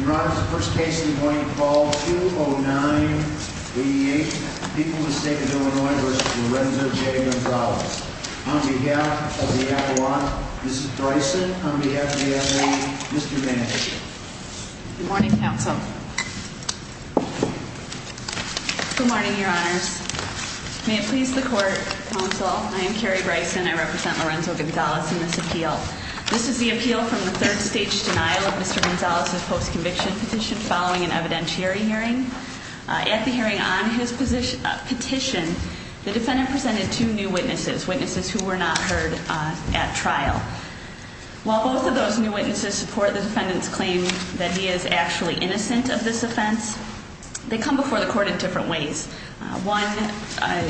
Your Honor, this is the first case in the morning, call 209-88, People v. State of Illinois v. Lorenzo J. Gonzalez. On behalf of the appellate, Mrs. Bryson, on behalf of the FAA, Mr. Vance. Good morning, Counsel. Good morning, Your Honors. May it please the Court, Counsel, I am Carrie Bryson, I represent Lorenzo Gonzalez in this appeal. This is the appeal from the third stage denial of Mr. Gonzalez's post-conviction petition following an evidentiary hearing. At the hearing on his petition, the defendant presented two new witnesses, witnesses who were not heard at trial. While both of those new witnesses support the defendant's claim that he is actually innocent of this offense, they come before the court in different ways. One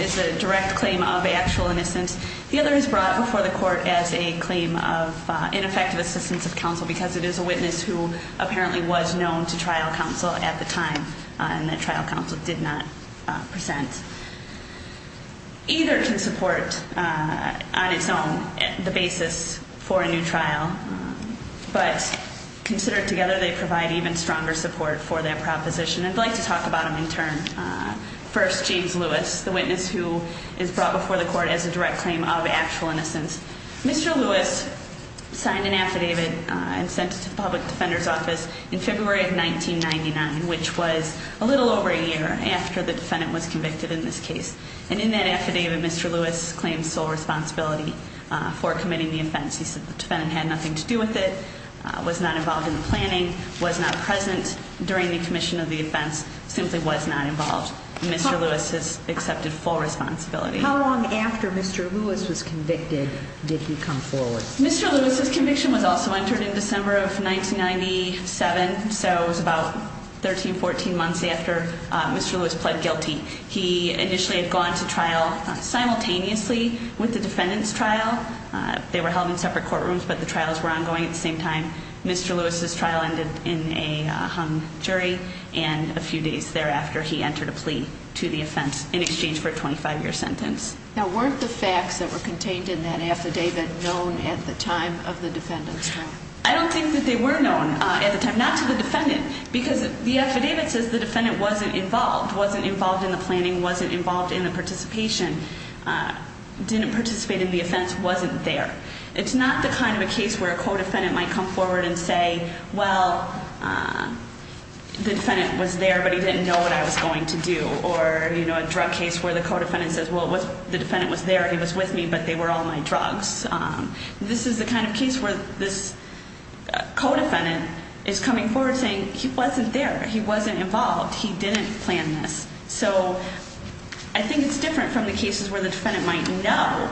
is a direct claim of actual innocence, the other is brought before the court as a claim of ineffective assistance of counsel, because it is a witness who apparently was known to trial counsel at the time, and that trial counsel did not present. Either can support on its own the basis for a new trial, but considered together, they provide even stronger support for that proposition. I'd like to talk about them in turn. First, James Lewis, the witness who is brought before the court as a direct claim of actual innocence. Mr. Lewis signed an affidavit and sent it to the public defender's office in February of 1999, which was a little over a year after the defendant was convicted in this case. And in that affidavit, Mr. Lewis claims sole responsibility for committing the offense. He said the defendant had nothing to do with it, was not involved in the planning, was not present during the commission of the offense, simply was not involved. Mr. Lewis has accepted full responsibility. How long after Mr. Lewis was convicted did he come forward? Mr. Lewis's conviction was also entered in December of 1997, so it was about 13, 14 months after Mr. Lewis pled guilty. They were held in separate courtrooms, but the trials were ongoing at the same time. Mr. Lewis's trial ended in a hung jury and a few days thereafter he entered a plea to the offense in exchange for a 25-year sentence. Now, weren't the facts that were contained in that affidavit known at the time of the defendant's trial? I don't think that they were known at the time, not to the defendant, because the affidavit says the defendant wasn't involved, wasn't involved in the planning, wasn't involved in the participation, didn't participate in the offense, wasn't there. It's not the kind of a case where a co-defendant might come forward and say, well, the defendant was there, but he didn't know what I was going to do, or a drug case where the co-defendant says, well, the defendant was there, he was with me, but they were all my drugs. This is the kind of case where this co-defendant is coming forward saying he wasn't there, he wasn't involved, he didn't plan this. So I think it's different from the cases where the defendant might know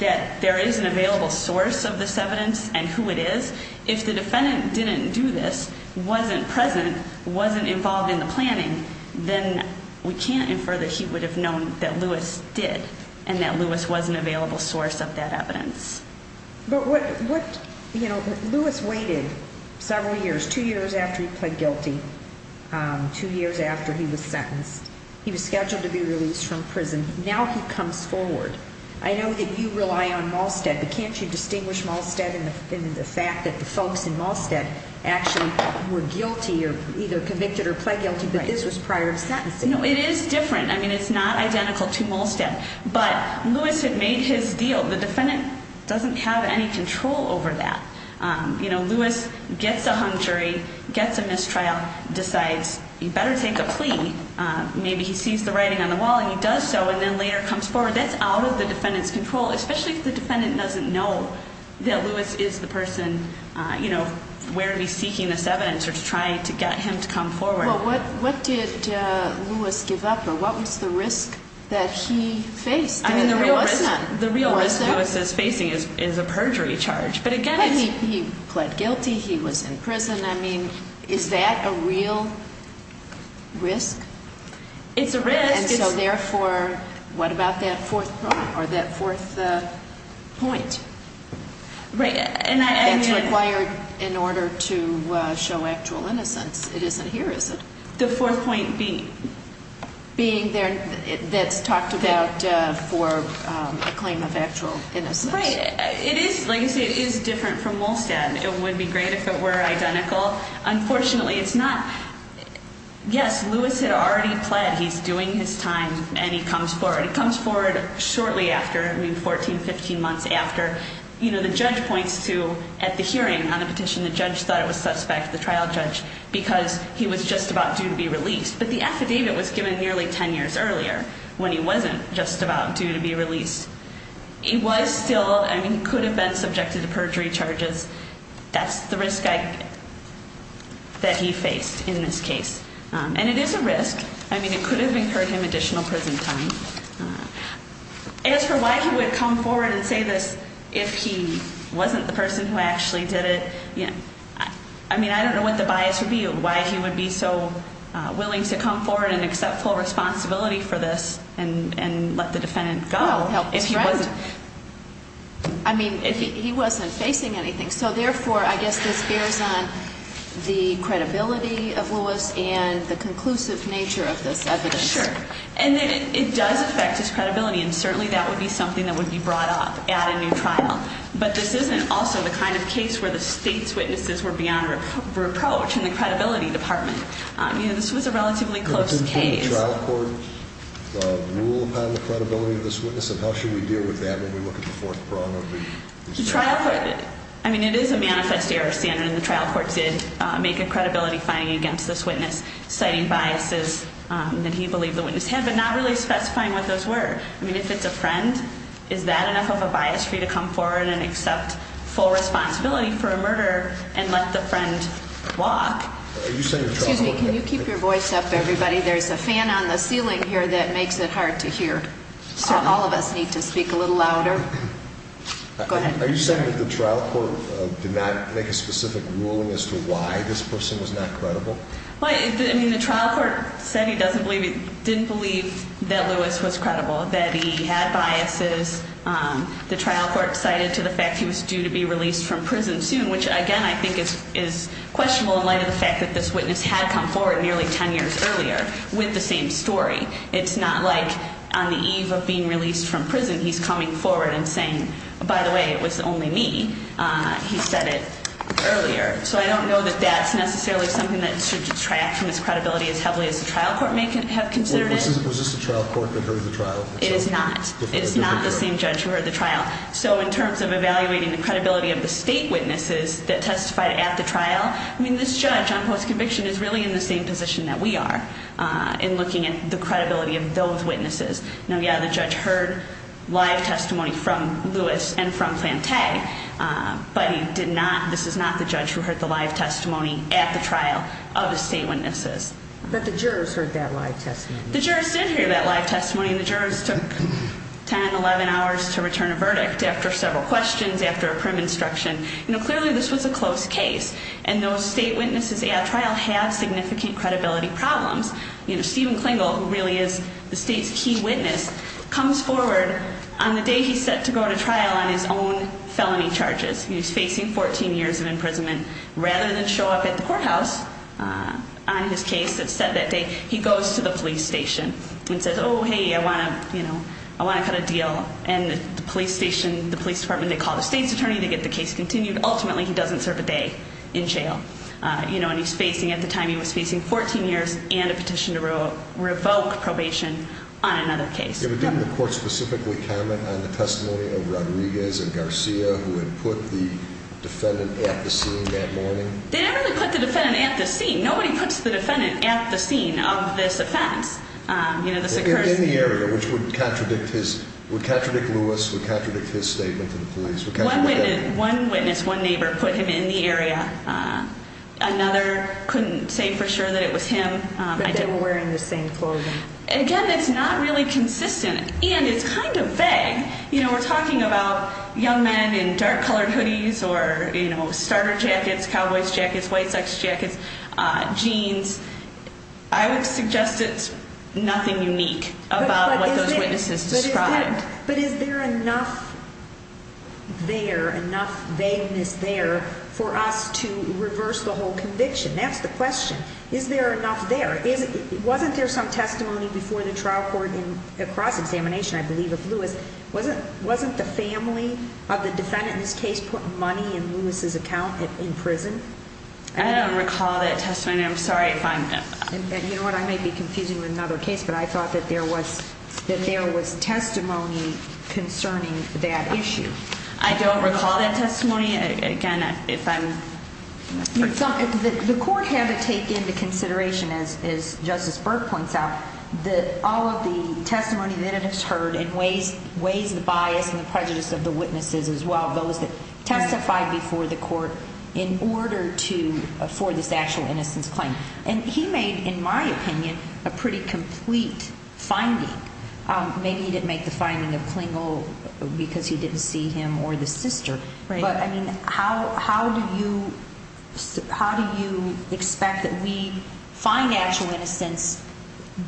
that there is an available source of this evidence and who it is. If the defendant didn't do this, wasn't present, wasn't involved in the planning, then we can't infer that he would have known that Lewis did and that Lewis was an available source of that evidence. But what, you know, Lewis waited several years, two years after he pled guilty, two years after he was sentenced. He was scheduled to be released from prison. Now he comes forward. I know that you rely on Malstead, but can't you distinguish Malstead and the fact that the folks in Malstead actually were guilty or either convicted or pled guilty, but this was prior to sentencing? No, it is different. I mean, it's not identical to Malstead. But Lewis had made his deal. The defendant doesn't have any control over that. You know, Lewis gets a hung jury, gets a mistrial, decides he better take a plea. Maybe he sees the writing on the wall and he does so and then later comes forward. That's out of the defendant's control, especially if the defendant doesn't know that Lewis is the person, you know, where he's seeking this evidence or to try to get him to come forward. Well, what did Lewis give up or what was the risk that he faced? I mean, the real risk Lewis is facing is a perjury charge. But again, he pled guilty, he was in prison. I mean, is that a real risk? It's a risk. And so therefore, what about that fourth point? Right. That's required in order to show actual innocence. It isn't here, is it? The fourth point being? Being there, that's talked about for a claim of actual innocence. Right. It is, like you say, it is different from Malstead. It would be great if it were identical. Unfortunately, it's not. Yes, Lewis had already pled. He's doing his time and he comes forward. He comes forward shortly after, I mean, 14, 15 months after. You know, the judge points to at the hearing on the petition, the judge thought it was suspect, the trial judge, because he was just about due to be released. But the affidavit was given nearly 10 years earlier when he wasn't just about due to be released. He was still, I mean, he could have been subjected to perjury charges. That's the risk that he faced in this case. And it is a risk. I mean, it could have incurred him additional prison time. As for why he would come forward and say this if he wasn't the person who actually did it, I mean, I don't know what the bias would be of why he would be so willing to come forward and accept full responsibility for this and let the defendant go if he wasn't. I mean, he wasn't facing anything. So, therefore, I guess this bears on the credibility of Lewis and the conclusive nature of this evidence. Sure. And it does affect his credibility, and certainly that would be something that would be brought up at a new trial. But this isn't also the kind of case where the state's witnesses were beyond reproach in the credibility department. You know, this was a relatively close case. Does the trial court rule upon the credibility of this witness, and how should we deal with that when we look at the fourth prong of the case? The trial court, I mean, it is a manifest error standard, and the trial court did make a credibility finding against this witness, citing biases that he believed the witness had, but not really specifying what those were. I mean, if it's a friend, is that enough of a bias for you to come forward and accept full responsibility for a murder and let the friend walk? Excuse me, can you keep your voice up, everybody? There's a fan on the ceiling here that makes it hard to hear. All of us need to speak a little louder. Go ahead. Are you saying that the trial court did not make a specific ruling as to why this person was not credible? I mean, the trial court said he didn't believe that Lewis was credible, that he had biases. The trial court cited to the fact he was due to be released from prison soon, which, again, I think is questionable in light of the fact that this witness had come forward nearly 10 years earlier with the same story. It's not like on the eve of being released from prison he's coming forward and saying, by the way, it was only me, he said it earlier. So I don't know that that's necessarily something that should detract from his credibility as heavily as the trial court may have considered it. Was this the trial court that heard the trial? It is not. It is not the same judge who heard the trial. So in terms of evaluating the credibility of the state witnesses that testified at the trial, I mean, this judge on post-conviction is really in the same position that we are in looking at the credibility of those witnesses. Now, yeah, the judge heard live testimony from Lewis and from Plante, but he did not, this is not the judge who heard the live testimony at the trial of the state witnesses. But the jurors heard that live testimony. The jurors did hear that live testimony, and the jurors took 10, 11 hours to return a verdict after several questions, after a prim instruction. You know, clearly this was a close case, and those state witnesses at trial have significant credibility problems. You know, Stephen Klingel, who really is the state's key witness, comes forward on the day he's set to go to trial on his own felony charges. He's facing 14 years of imprisonment. Rather than show up at the courthouse on his case that's set that day, he goes to the police station and says, oh, hey, I want to, you know, I want to cut a deal. And the police station, the police department, they call the state's attorney to get the case continued. Ultimately, he doesn't serve a day in jail. You know, and he's facing, at the time he was facing, 14 years and a petition to revoke probation on another case. Did the court specifically comment on the testimony of Rodriguez and Garcia, who had put the defendant at the scene that morning? They didn't really put the defendant at the scene. Nobody puts the defendant at the scene of this offense. You know, this occurs in the area, which would contradict his, would contradict Lewis, would contradict his statement to the police. One witness, one neighbor, put him in the area. Another couldn't say for sure that it was him. But they were wearing the same clothing. Again, it's not really consistent, and it's kind of vague. You know, we're talking about young men in dark-colored hoodies or, you know, starter jackets, cowboy jackets, white sex jackets, jeans. I would suggest it's nothing unique about what those witnesses described. But is there enough there, enough vagueness there for us to reverse the whole conviction? That's the question. Is there enough there? Wasn't there some testimony before the trial court in a cross-examination, I believe, of Lewis? Wasn't the family of the defendant in this case putting money in Lewis' account in prison? I don't recall that testimony. I'm sorry if I'm— You know what? I may be confusing you with another case, but I thought that there was testimony concerning that issue. I don't recall that testimony. Again, if I'm— The court had to take into consideration, as Justice Burke points out, all of the testimony that it has heard and weighs the bias and the prejudice of the witnesses as well, those that testified before the court, in order to afford this actual innocence claim. And he made, in my opinion, a pretty complete finding. Maybe he didn't make the finding of Klingel because you didn't see him or the sister. But, I mean, how do you expect that we find actual innocence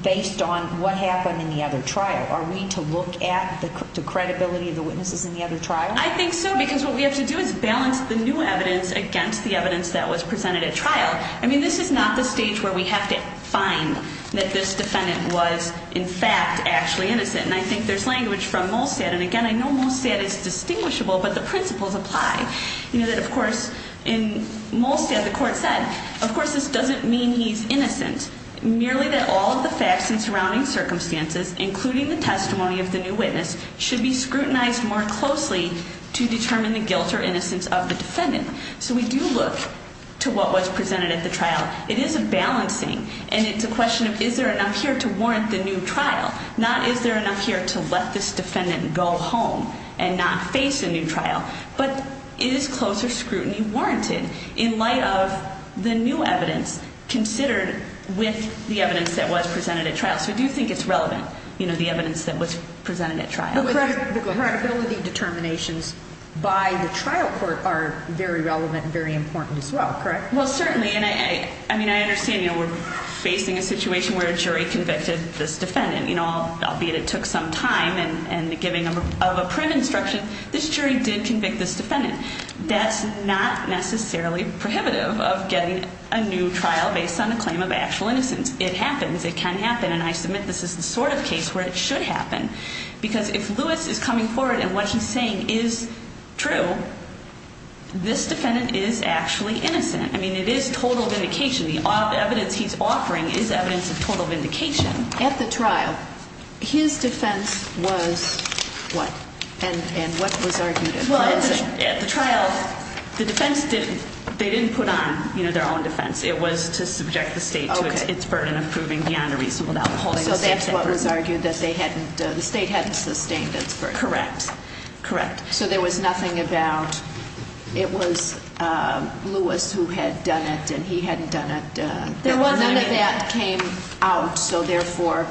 based on what happened in the other trial? Are we to look at the credibility of the witnesses in the other trial? I think so, because what we have to do is balance the new evidence against the evidence that was presented at trial. I mean, this is not the stage where we have to find that this defendant was, in fact, actually innocent. And I think there's language from Molstad. And, again, I know Molstad is distinguishable, but the principles apply. You know that, of course, in Molstad, the court said, of course, this doesn't mean he's innocent. Merely that all of the facts and surrounding circumstances, including the testimony of the new witness, should be scrutinized more closely to determine the guilt or innocence of the defendant. So we do look to what was presented at the trial. It is a balancing, and it's a question of is there enough here to warrant the new trial, not is there enough here to let this defendant go home and not face a new trial. But is closer scrutiny warranted in light of the new evidence considered with the evidence that was presented at trial? So we do think it's relevant, you know, the evidence that was presented at trial. And the credibility determinations by the trial court are very relevant and very important as well, correct? Well, certainly. And, I mean, I understand, you know, we're facing a situation where a jury convicted this defendant. You know, albeit it took some time and the giving of a print instruction, this jury did convict this defendant. That's not necessarily prohibitive of getting a new trial based on a claim of actual innocence. It happens. It can happen. And I submit this is the sort of case where it should happen. Because if Lewis is coming forward and what he's saying is true, this defendant is actually innocent. I mean, it is total vindication. The evidence he's offering is evidence of total vindication. At the trial, his defense was what? And what was argued at trial? Well, at the trial, the defense didn't, they didn't put on, you know, their own defense. It was to subject the state to its burden of proving beyond a reasonable doubt. So that's what was argued, that they hadn't, the state hadn't sustained its burden. Correct. Correct. So there was nothing about, it was Lewis who had done it and he hadn't done it. None of that came out. So, therefore,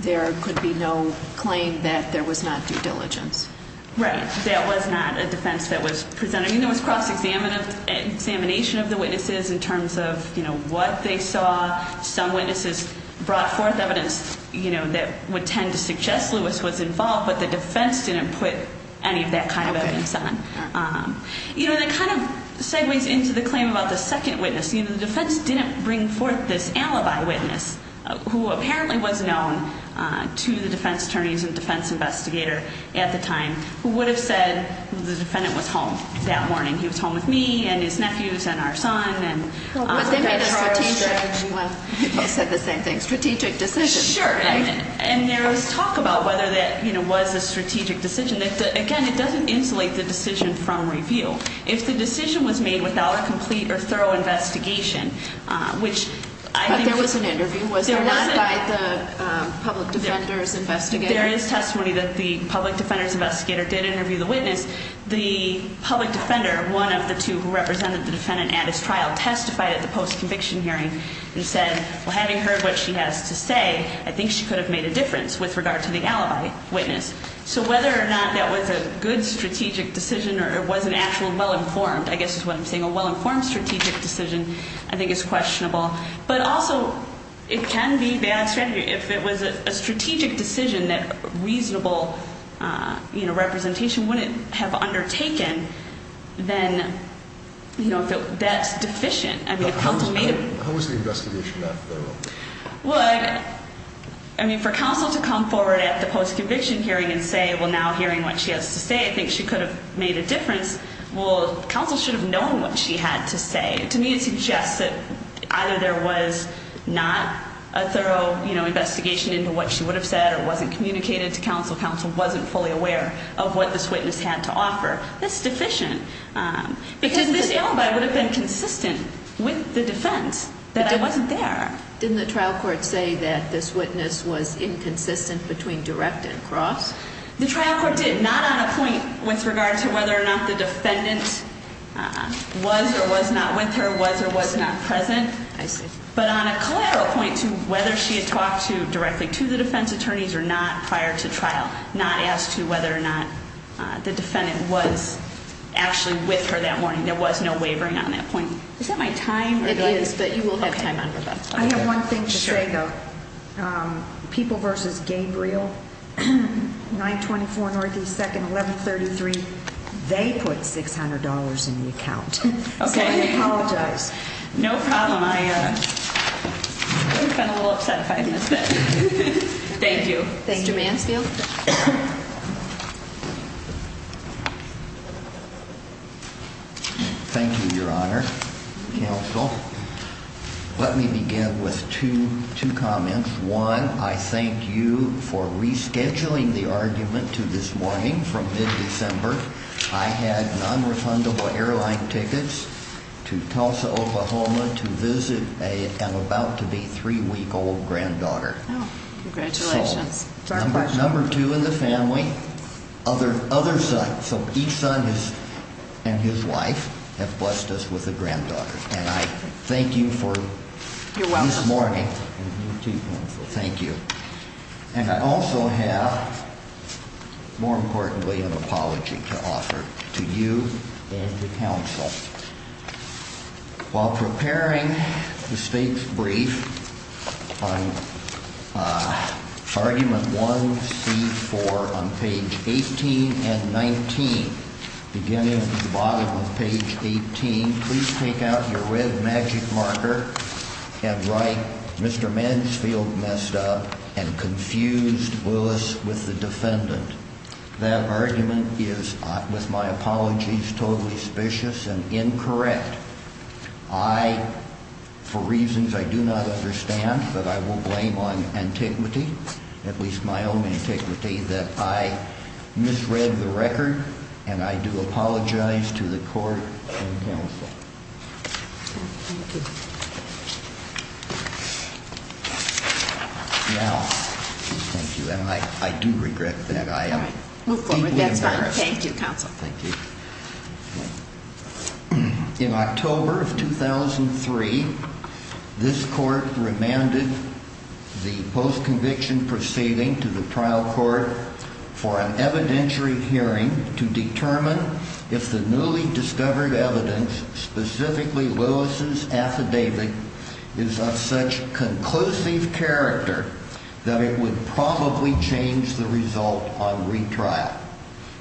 there could be no claim that there was not due diligence. Right. That was not a defense that was presented. I mean, there was cross-examination of the witnesses in terms of, you know, what they saw. Some witnesses brought forth evidence, you know, that would tend to suggest Lewis was involved, but the defense didn't put any of that kind of evidence on. Okay. You know, that kind of segues into the claim about the second witness. You know, the defense didn't bring forth this alibi witness, who apparently was known to the defense attorneys and defense investigator at the time, who would have said the defendant was home that morning. He was home with me and his nephews and our son. But they made a strategic, well, you guys said the same thing, strategic decision. Sure. And there was talk about whether that, you know, was a strategic decision. Again, it doesn't insulate the decision from review. If the decision was made without a complete or thorough investigation, which I think. But there was an interview, was there not, by the public defender's investigator? There is testimony that the public defender's investigator did interview the witness. The public defender, one of the two who represented the defendant at his trial, testified at the post-conviction hearing and said, well, having heard what she has to say, I think she could have made a difference with regard to the alibi witness. So whether or not that was a good strategic decision or it was an actual well-informed, I guess is what I'm saying, a well-informed strategic decision, I think is questionable. But also, it can be bad strategy. If it was a strategic decision that reasonable, you know, representation wouldn't have undertaken, then, you know, that's deficient. How was the investigation? Well, I mean, for counsel to come forward at the post-conviction hearing and say, well, now hearing what she has to say, I think she could have made a difference. Well, counsel should have known what she had to say. To me, it suggests that either there was not a thorough, you know, investigation into what she would have said or wasn't communicated to counsel. Counsel wasn't fully aware of what this witness had to offer. That's deficient. Because this alibi would have been consistent with the defense that I wasn't there. Didn't the trial court say that this witness was inconsistent between direct and cross? The trial court did, not on a point with regard to whether or not the defendant was or was not with her, was or was not present. I see. But on a collateral point to whether she had talked directly to the defense attorneys or not prior to trial, not asked to whether or not the defendant was actually with her that morning. There was no wavering on that point. Is that my time? It is, but you will have time on your back. I have one thing to say, though. People versus Gabriel, 924 Northeast 2nd, 1133. They put $600 in the account. Okay. So I apologize. No problem. I've been a little upset if I missed it. Thank you. Thank you. Mr. Mansfield. Thank you, Your Honor, counsel. Let me begin with two comments. One, I thank you for rescheduling the argument to this morning from mid-December. I had nonrefundable airline tickets to Tulsa, Oklahoma, to visit an about-to-be-three-week-old granddaughter. Congratulations. Number two in the family, other son. So each son and his wife have blessed us with a granddaughter. And I thank you for this morning. You're welcome. Thank you. And I also have, more importantly, an apology to offer to you and to counsel. While preparing the state's brief on argument 1C4 on page 18 and 19, beginning at the bottom of page 18, please take out your red magic marker and write, Mr. Mansfield messed up and confused Willis with the defendant. That argument is, with my apologies, totally suspicious and incorrect. I, for reasons I do not understand, but I will blame on antiquity, at least my own antiquity, that I misread the record, and I do apologize to the court and counsel. Thank you. Now, thank you. And I do regret that I am deeply embarrassed. Thank you, counsel. Thank you. In October of 2003, this court remanded the post-conviction proceeding to the trial court for an evidentiary hearing to determine if the newly discovered evidence, specifically Lewis's affidavit, is of such conclusive character that it would probably change the result on retrial.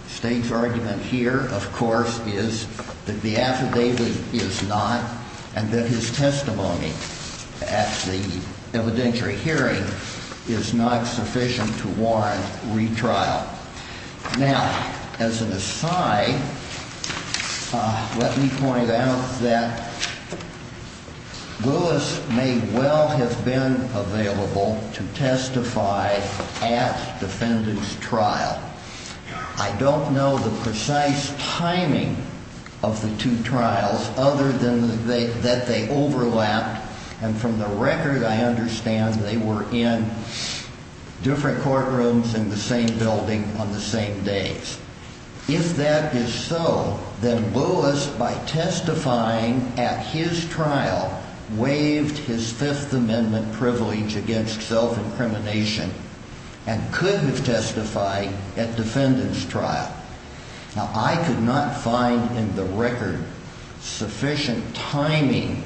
The state's argument here, of course, is that the affidavit is not, and that his testimony at the evidentiary hearing is not sufficient to warrant retrial. Now, as an aside, let me point out that Lewis may well have been available to testify at the defendant's trial. I don't know the precise timing of the two trials other than that they overlapped, and from the record I understand they were in different courtrooms in the same building on the same days. If that is so, then Lewis, by testifying at his trial, waived his Fifth Amendment privilege against self-incrimination and could have testified at defendant's trial. Now, I could not find in the record sufficient timing,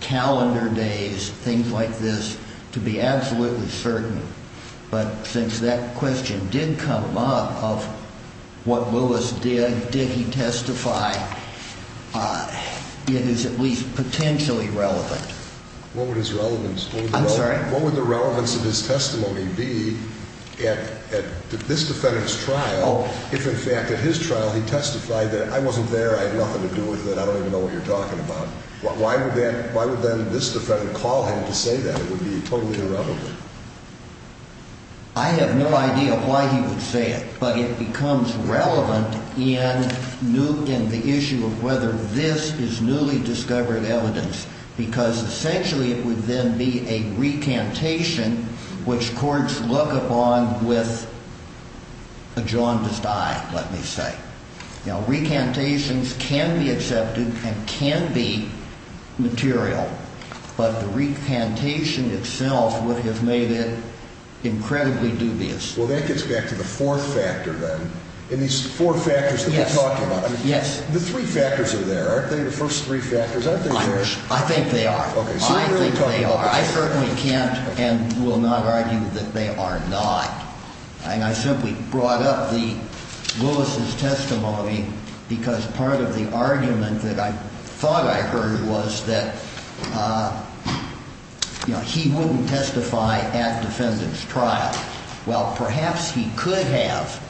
calendar days, things like this, to be absolutely certain. But since that question did come up of what Lewis did, did he testify, it is at least potentially relevant. I'm sorry? What would the relevance of his testimony be at this defendant's trial if, in fact, at his trial, he testified that I wasn't there, I had nothing to do with it, I don't even know what you're talking about? Why would then this defendant call him to say that? It would be totally irrelevant. I have no idea why he would say it, but it becomes relevant in the issue of whether this is newly discovered evidence, because essentially it would then be a recantation which courts look upon with a jaundiced eye, let me say. Now, recantations can be accepted and can be material, but the recantation itself would have made it incredibly dubious. Well, that gets back to the fourth factor, then. In these four factors that you're talking about, the three factors are there, aren't they, the first three factors? I think they are. I think they are. I think they are. I certainly can't and will not argue that they are not. I simply brought up Lewis's testimony because part of the argument that I thought I heard was that he wouldn't testify at the defendant's trial. Well, perhaps he could have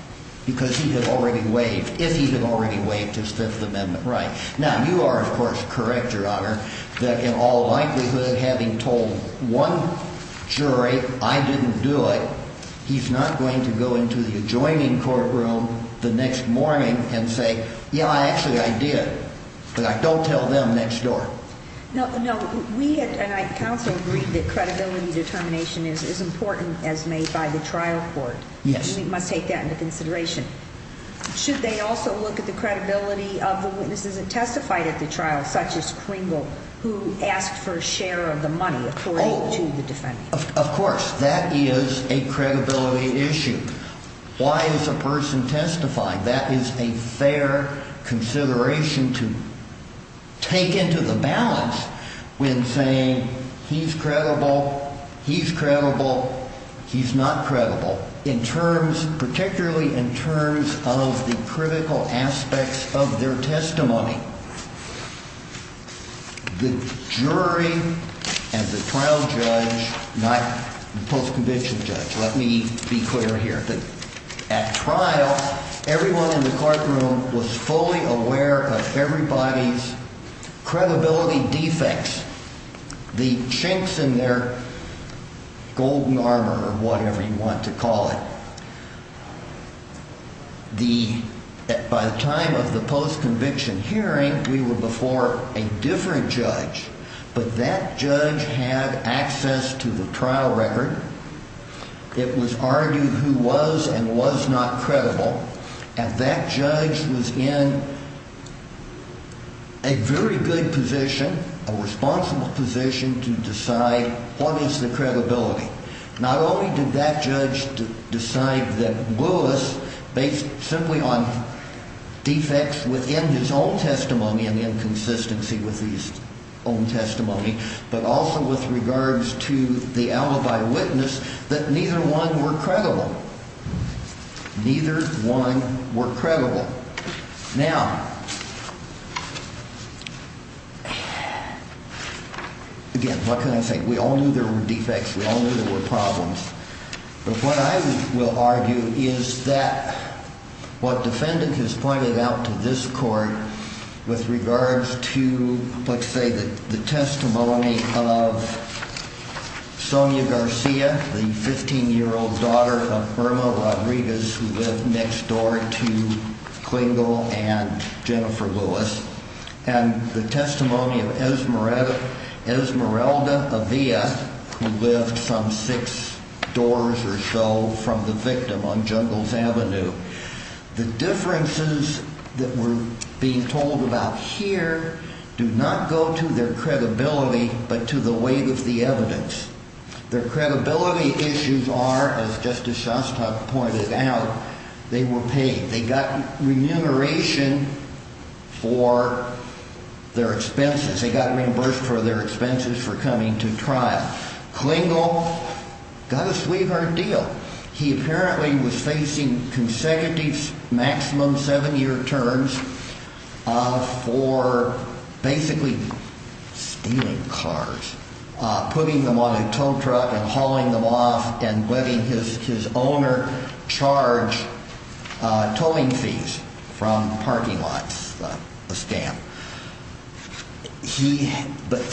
because he had already waived, if he had already waived his Fifth Amendment right. Now, you are, of course, correct, Your Honor, that in all likelihood, having told one jury I didn't do it, he's not going to go into the adjoining courtroom the next morning and say, yeah, actually I did, but I don't tell them next door. No. We at counsel agree that credibility determination is as important as made by the trial court. Yes. We must take that into consideration. Should they also look at the credibility of the witnesses that testified at the trial, such as Kringle, who asked for a share of the money according to the defendant? Oh, of course. That is a credibility issue. Why is a person testified? That is a fair consideration to take into the balance when saying he's credible, he's credible, he's not credible in terms, particularly in terms of the critical aspects of their testimony. The jury and the trial judge, not the post-conviction judge, let me be clear here. At trial, everyone in the courtroom was fully aware of everybody's credibility defects, the chinks in their golden armor or whatever you want to call it. By the time of the post-conviction hearing, we were before a different judge, but that judge had access to the trial record. It was argued who was and was not credible, and that judge was in a very good position, a responsible position to decide what is the credibility. Not only did that judge decide that Lewis, based simply on defects within his own testimony and inconsistency with his own testimony, but also with regards to the alibi witness, that neither one were credible. Neither one were credible. Now, again, what can I say? We all knew there were defects. We all knew there were problems. But what I will argue is that what defendant has pointed out to this court with regards to, let's say, the testimony of Sonia Garcia, the 15-year-old daughter of Irma Rodriguez, who lived next door to Klingel and Jennifer Lewis, and the testimony of Esmeralda Avia, who lived some six doors or so from the victim on Jungles Avenue, the differences that were being told about here do not go to their credibility but to the weight of the evidence. Their credibility issues are, as Justice Shostak pointed out, they were paid. They got remuneration for their expenses. They got reimbursed for their expenses for coming to trial. Klingel got a sweetheart deal. He apparently was facing consecutive maximum seven-year terms for basically stealing cars, putting them on a tow truck and hauling them off and letting his owner charge towing fees from parking lots, a scam. But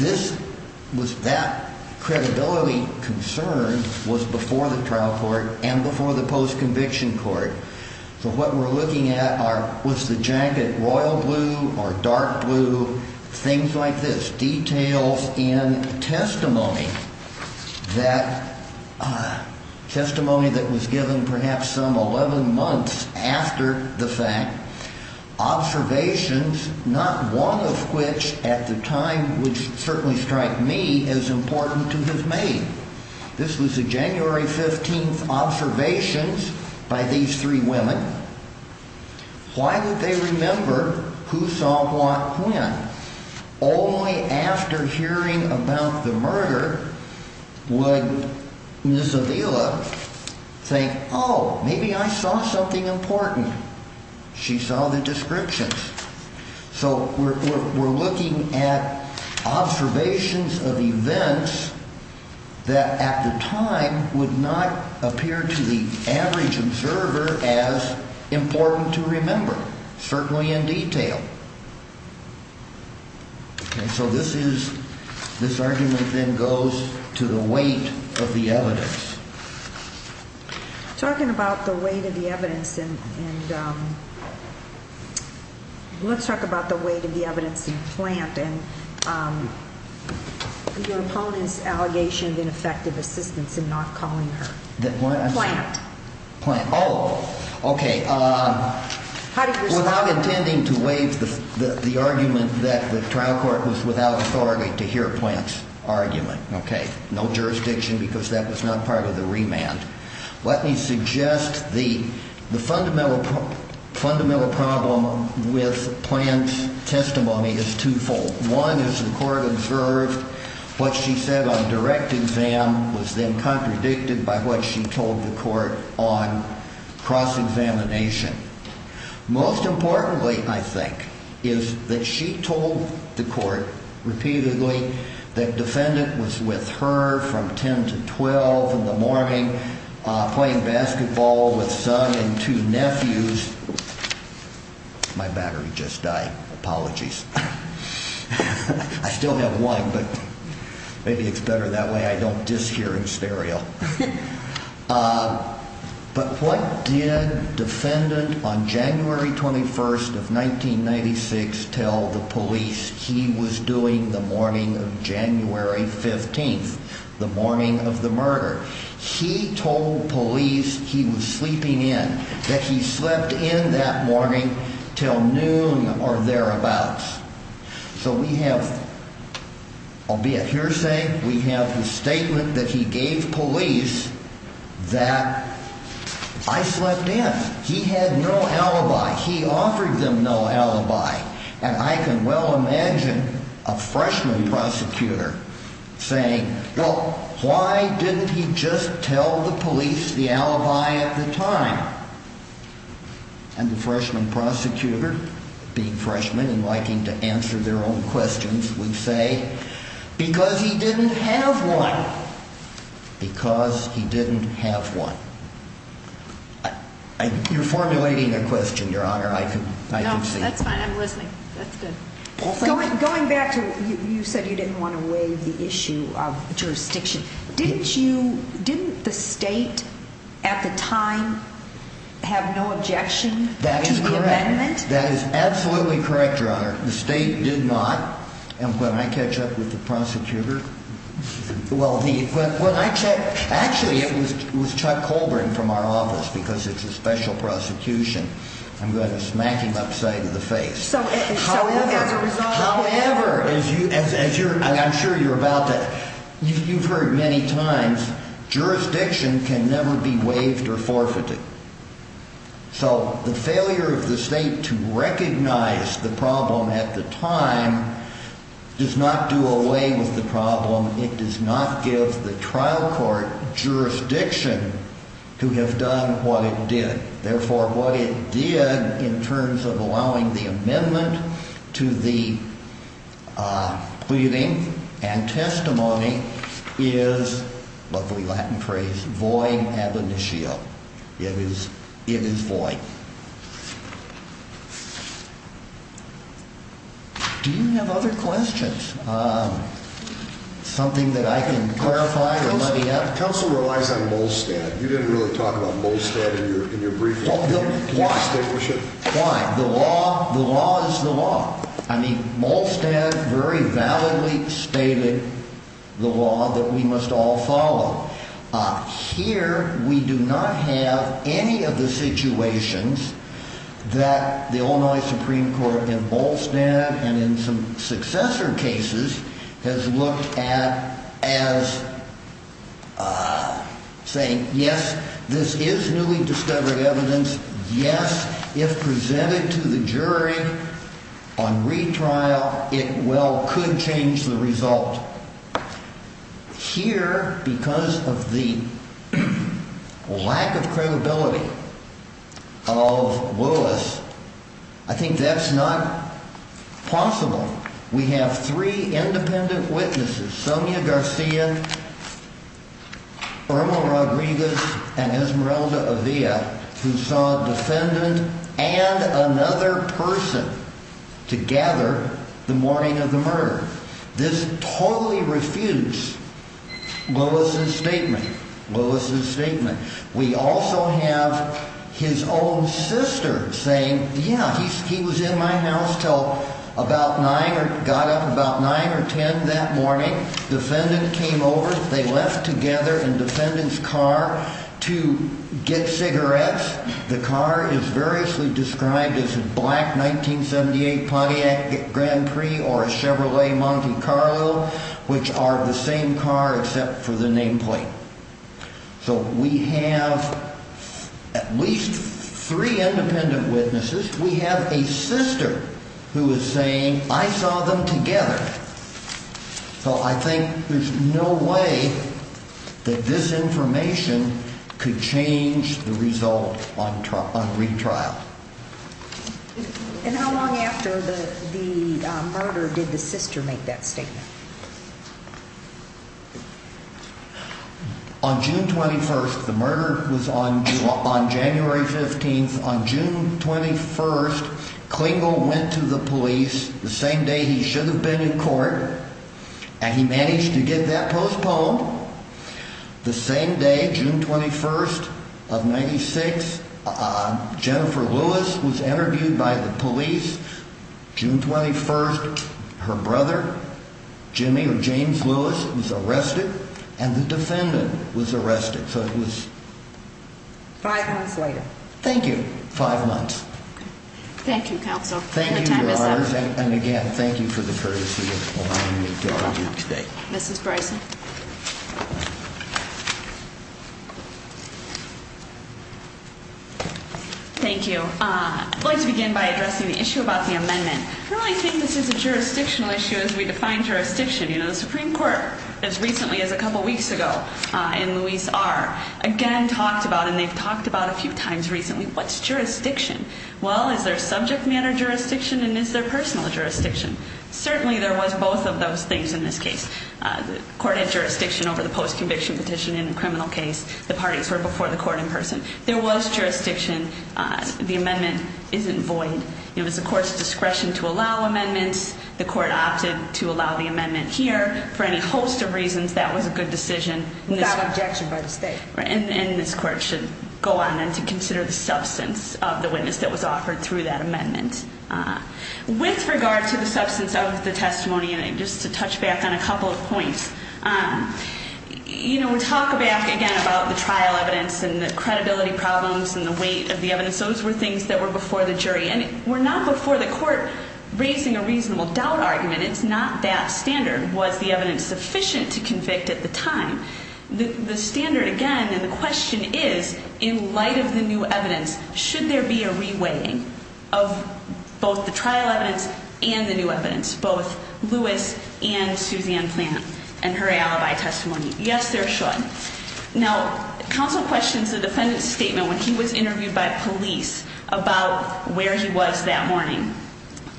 that credibility concern was before the trial court and before the post-conviction court. So what we're looking at was the jacket, royal blue or dark blue, things like this, details in testimony that was given perhaps some 11 months after the fact. Observations, not one of which at the time would certainly strike me as important to have made. This was the January 15th observations by these three women. Why would they remember who saw what when? Only after hearing about the murder would Ms. Avila think, oh, maybe I saw something important. She saw the descriptions. So we're looking at observations of events that at the time would not appear to the average observer as important to remember, certainly in detail. So this is this argument then goes to the weight of the evidence. Talking about the weight of the evidence and let's talk about the weight of the evidence in plant and your opponent's allegation of ineffective assistance in not calling her plant plant. Oh, OK. Without intending to waive the argument that the trial court was without authority to hear plants argument. OK, no jurisdiction because that was not part of the remand. Let me suggest the fundamental fundamental problem with plant testimony is twofold. One is the court observed what she said on direct exam was then contradicted by what she told the court on cross examination. Most importantly, I think, is that she told the court repeatedly that defendant was with her from 10 to 12 in the morning playing basketball with son and two nephews. My battery just died. Apologies. I still have one, but maybe it's better that way. I don't just hear in stereo. But what did defendant on January 21st of 1996 tell the police he was doing the morning of January 15th, the morning of the murder? He told police he was sleeping in that he slept in that morning till noon or thereabouts. So we have albeit hearsay, we have the statement that he gave police that I slept in. He had no alibi. He offered them no alibi. And I can well imagine a freshman prosecutor saying, well, why didn't he just tell the police the alibi at the time? And the freshman prosecutor, being freshman and liking to answer their own questions, would say, because he didn't have one. Because he didn't have one. You're formulating a question, Your Honor. No, that's fine. I'm listening. That's good. Going back to, you said you didn't want to waive the issue of jurisdiction. Didn't you, didn't the state at the time have no objection to the amendment? That is correct. That is absolutely correct, Your Honor. The state did not. And when I catch up with the prosecutor, well, actually it was Chuck Colburn from our office because it's a special prosecution. I'm going to smack him upside of the face. However, as you, I'm sure you're about to, you've heard many times, jurisdiction can never be waived or forfeited. So the failure of the state to recognize the problem at the time does not do away with the problem. It does not give the trial court jurisdiction to have done what it did. Therefore, what it did in terms of allowing the amendment to the pleading and testimony is, lovely Latin phrase, void ab initio. It is void. Do you have other questions? Something that I can clarify or let me know. Counsel relies on Molstad. You didn't really talk about Molstad in your briefing. Why? The law is the law. I mean, Molstad very validly stated the law that we must all follow. Here, we do not have any of the situations that the Illinois Supreme Court in Molstad and in some successor cases has looked at as saying, yes, this is newly discovered evidence. Yes, if presented to the jury on retrial, it well could change the result. Here, because of the lack of credibility of Willis, I think that's not possible. We have three independent witnesses, Sonia Garcia, Irma Rodriguez and Esmeralda Avila, who saw a defendant and another person together the morning of the murder. This totally refused Willis's statement. Willis's statement. We also have his own sister saying, yeah, he was in my house till about 9 or got up about 9 or 10 that morning. Defendant came over. They left together in defendant's car to get cigarettes. The car is variously described as a black 1978 Pontiac Grand Prix or a Chevrolet Monte Carlo, which are the same car except for the nameplate. So we have at least three independent witnesses. We have a sister who is saying I saw them together. So I think there's no way that this information could change the result on retrial. And how long after the murder did the sister make that statement? On June 21st, the murder was on on January 15th. On June 21st, Klingel went to the police the same day he should have been in court and he managed to get that postponed. The same day, June 21st of 96, Jennifer Lewis was interviewed by the police. June 21st, her brother Jimmy or James Lewis was arrested and the defendant was arrested. So it was five months later. Thank you. Five months. Thank you. Counsel. Thank you. And again, thank you for the courtesy of today. Mrs. Bryson. Thank you. I'd like to begin by addressing the issue about the amendment. I really think this is a jurisdictional issue as we define jurisdiction. You know, the Supreme Court, as recently as a couple weeks ago, and Luis R. again talked about, and they've talked about a few times recently, what's jurisdiction? Well, is there subject matter jurisdiction and is there personal jurisdiction? Certainly there was both of those things in this case. The court had jurisdiction over the post-conviction petition in the criminal case. The parties were before the court in person. There was jurisdiction. The amendment isn't void. It was the court's discretion to allow amendments. The court opted to allow the amendment here. For any host of reasons, that was a good decision. Without objection by the state. And this court should go on then to consider the substance of the witness that was offered through that amendment. With regard to the substance of the testimony, just to touch back on a couple of points. You know, we talk back again about the trial evidence and the credibility problems and the weight of the evidence. Those were things that were before the jury. And were not before the court raising a reasonable doubt argument. It's not that standard. Was the evidence sufficient to convict at the time? The standard, again, and the question is, in light of the new evidence, should there be a re-weighing of both the trial evidence and the new evidence? Both Lewis and Suzanne Plant and her alibi testimony. Yes, there should. Now, counsel questions the defendant's statement when he was interviewed by police about where he was that morning.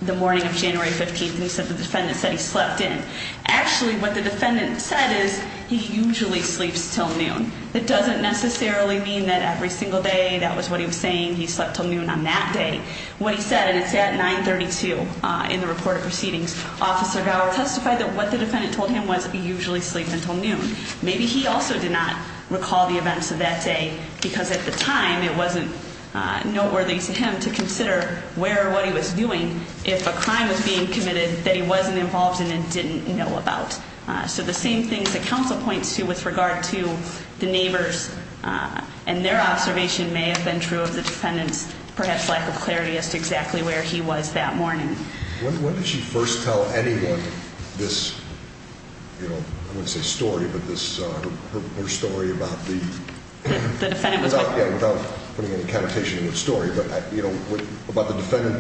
The morning of January 15th. And he said the defendant said he slept in. Actually, what the defendant said is, he usually sleeps till noon. That doesn't necessarily mean that every single day, that was what he was saying, he slept till noon on that day. What he said, and it's at 9.32 in the report of proceedings, Officer Gower testified that what the defendant told him was, he usually sleeps until noon. Maybe he also did not recall the events of that day. Because at the time, it wasn't noteworthy to him to consider where or what he was doing if a crime was being committed that he wasn't involved in and didn't know about. So the same things that counsel points to with regard to the neighbors and their observation may have been true of the defendant's perhaps lack of clarity as to exactly where he was that morning. When did she first tell anyone this, I wouldn't say story, but her story about the defendant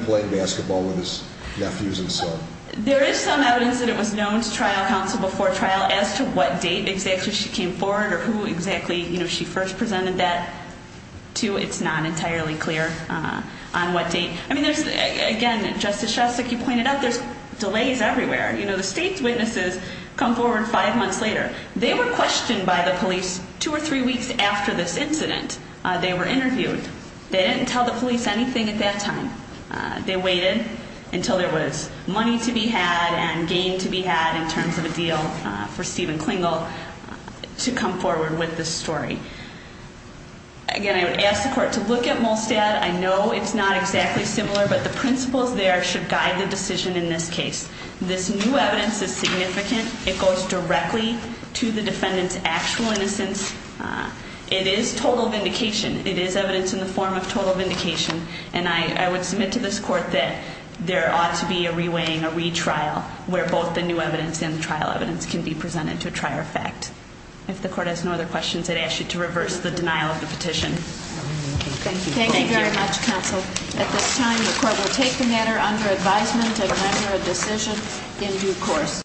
playing basketball with his nephews and son? There is some evidence that it was known to trial counsel before trial as to what date exactly she came forward or who exactly she first presented that to. It's not entirely clear on what date. Again, Justice Shostak, you pointed out, there's delays everywhere. The state's witnesses come forward five months later. They were questioned by the police two or three weeks after this incident. They were interviewed. They didn't tell the police anything at that time. They waited until there was money to be had and gain to be had in terms of a deal for Stephen Klingel to come forward with this story. Again, I would ask the court to look at Molstad. I know it's not exactly similar, but the principles there should guide the decision in this case. This new evidence is significant. It goes directly to the defendant's actual innocence. It is total vindication. It is evidence in the form of total vindication. And I would submit to this court that there ought to be a reweighing, a retrial, where both the new evidence and the trial evidence can be presented to a trier of fact. If the court has no other questions, I'd ask you to reverse the denial of the petition. Thank you. Thank you very much, counsel. At this time, the court will take the matter under advisement and render a decision in due course.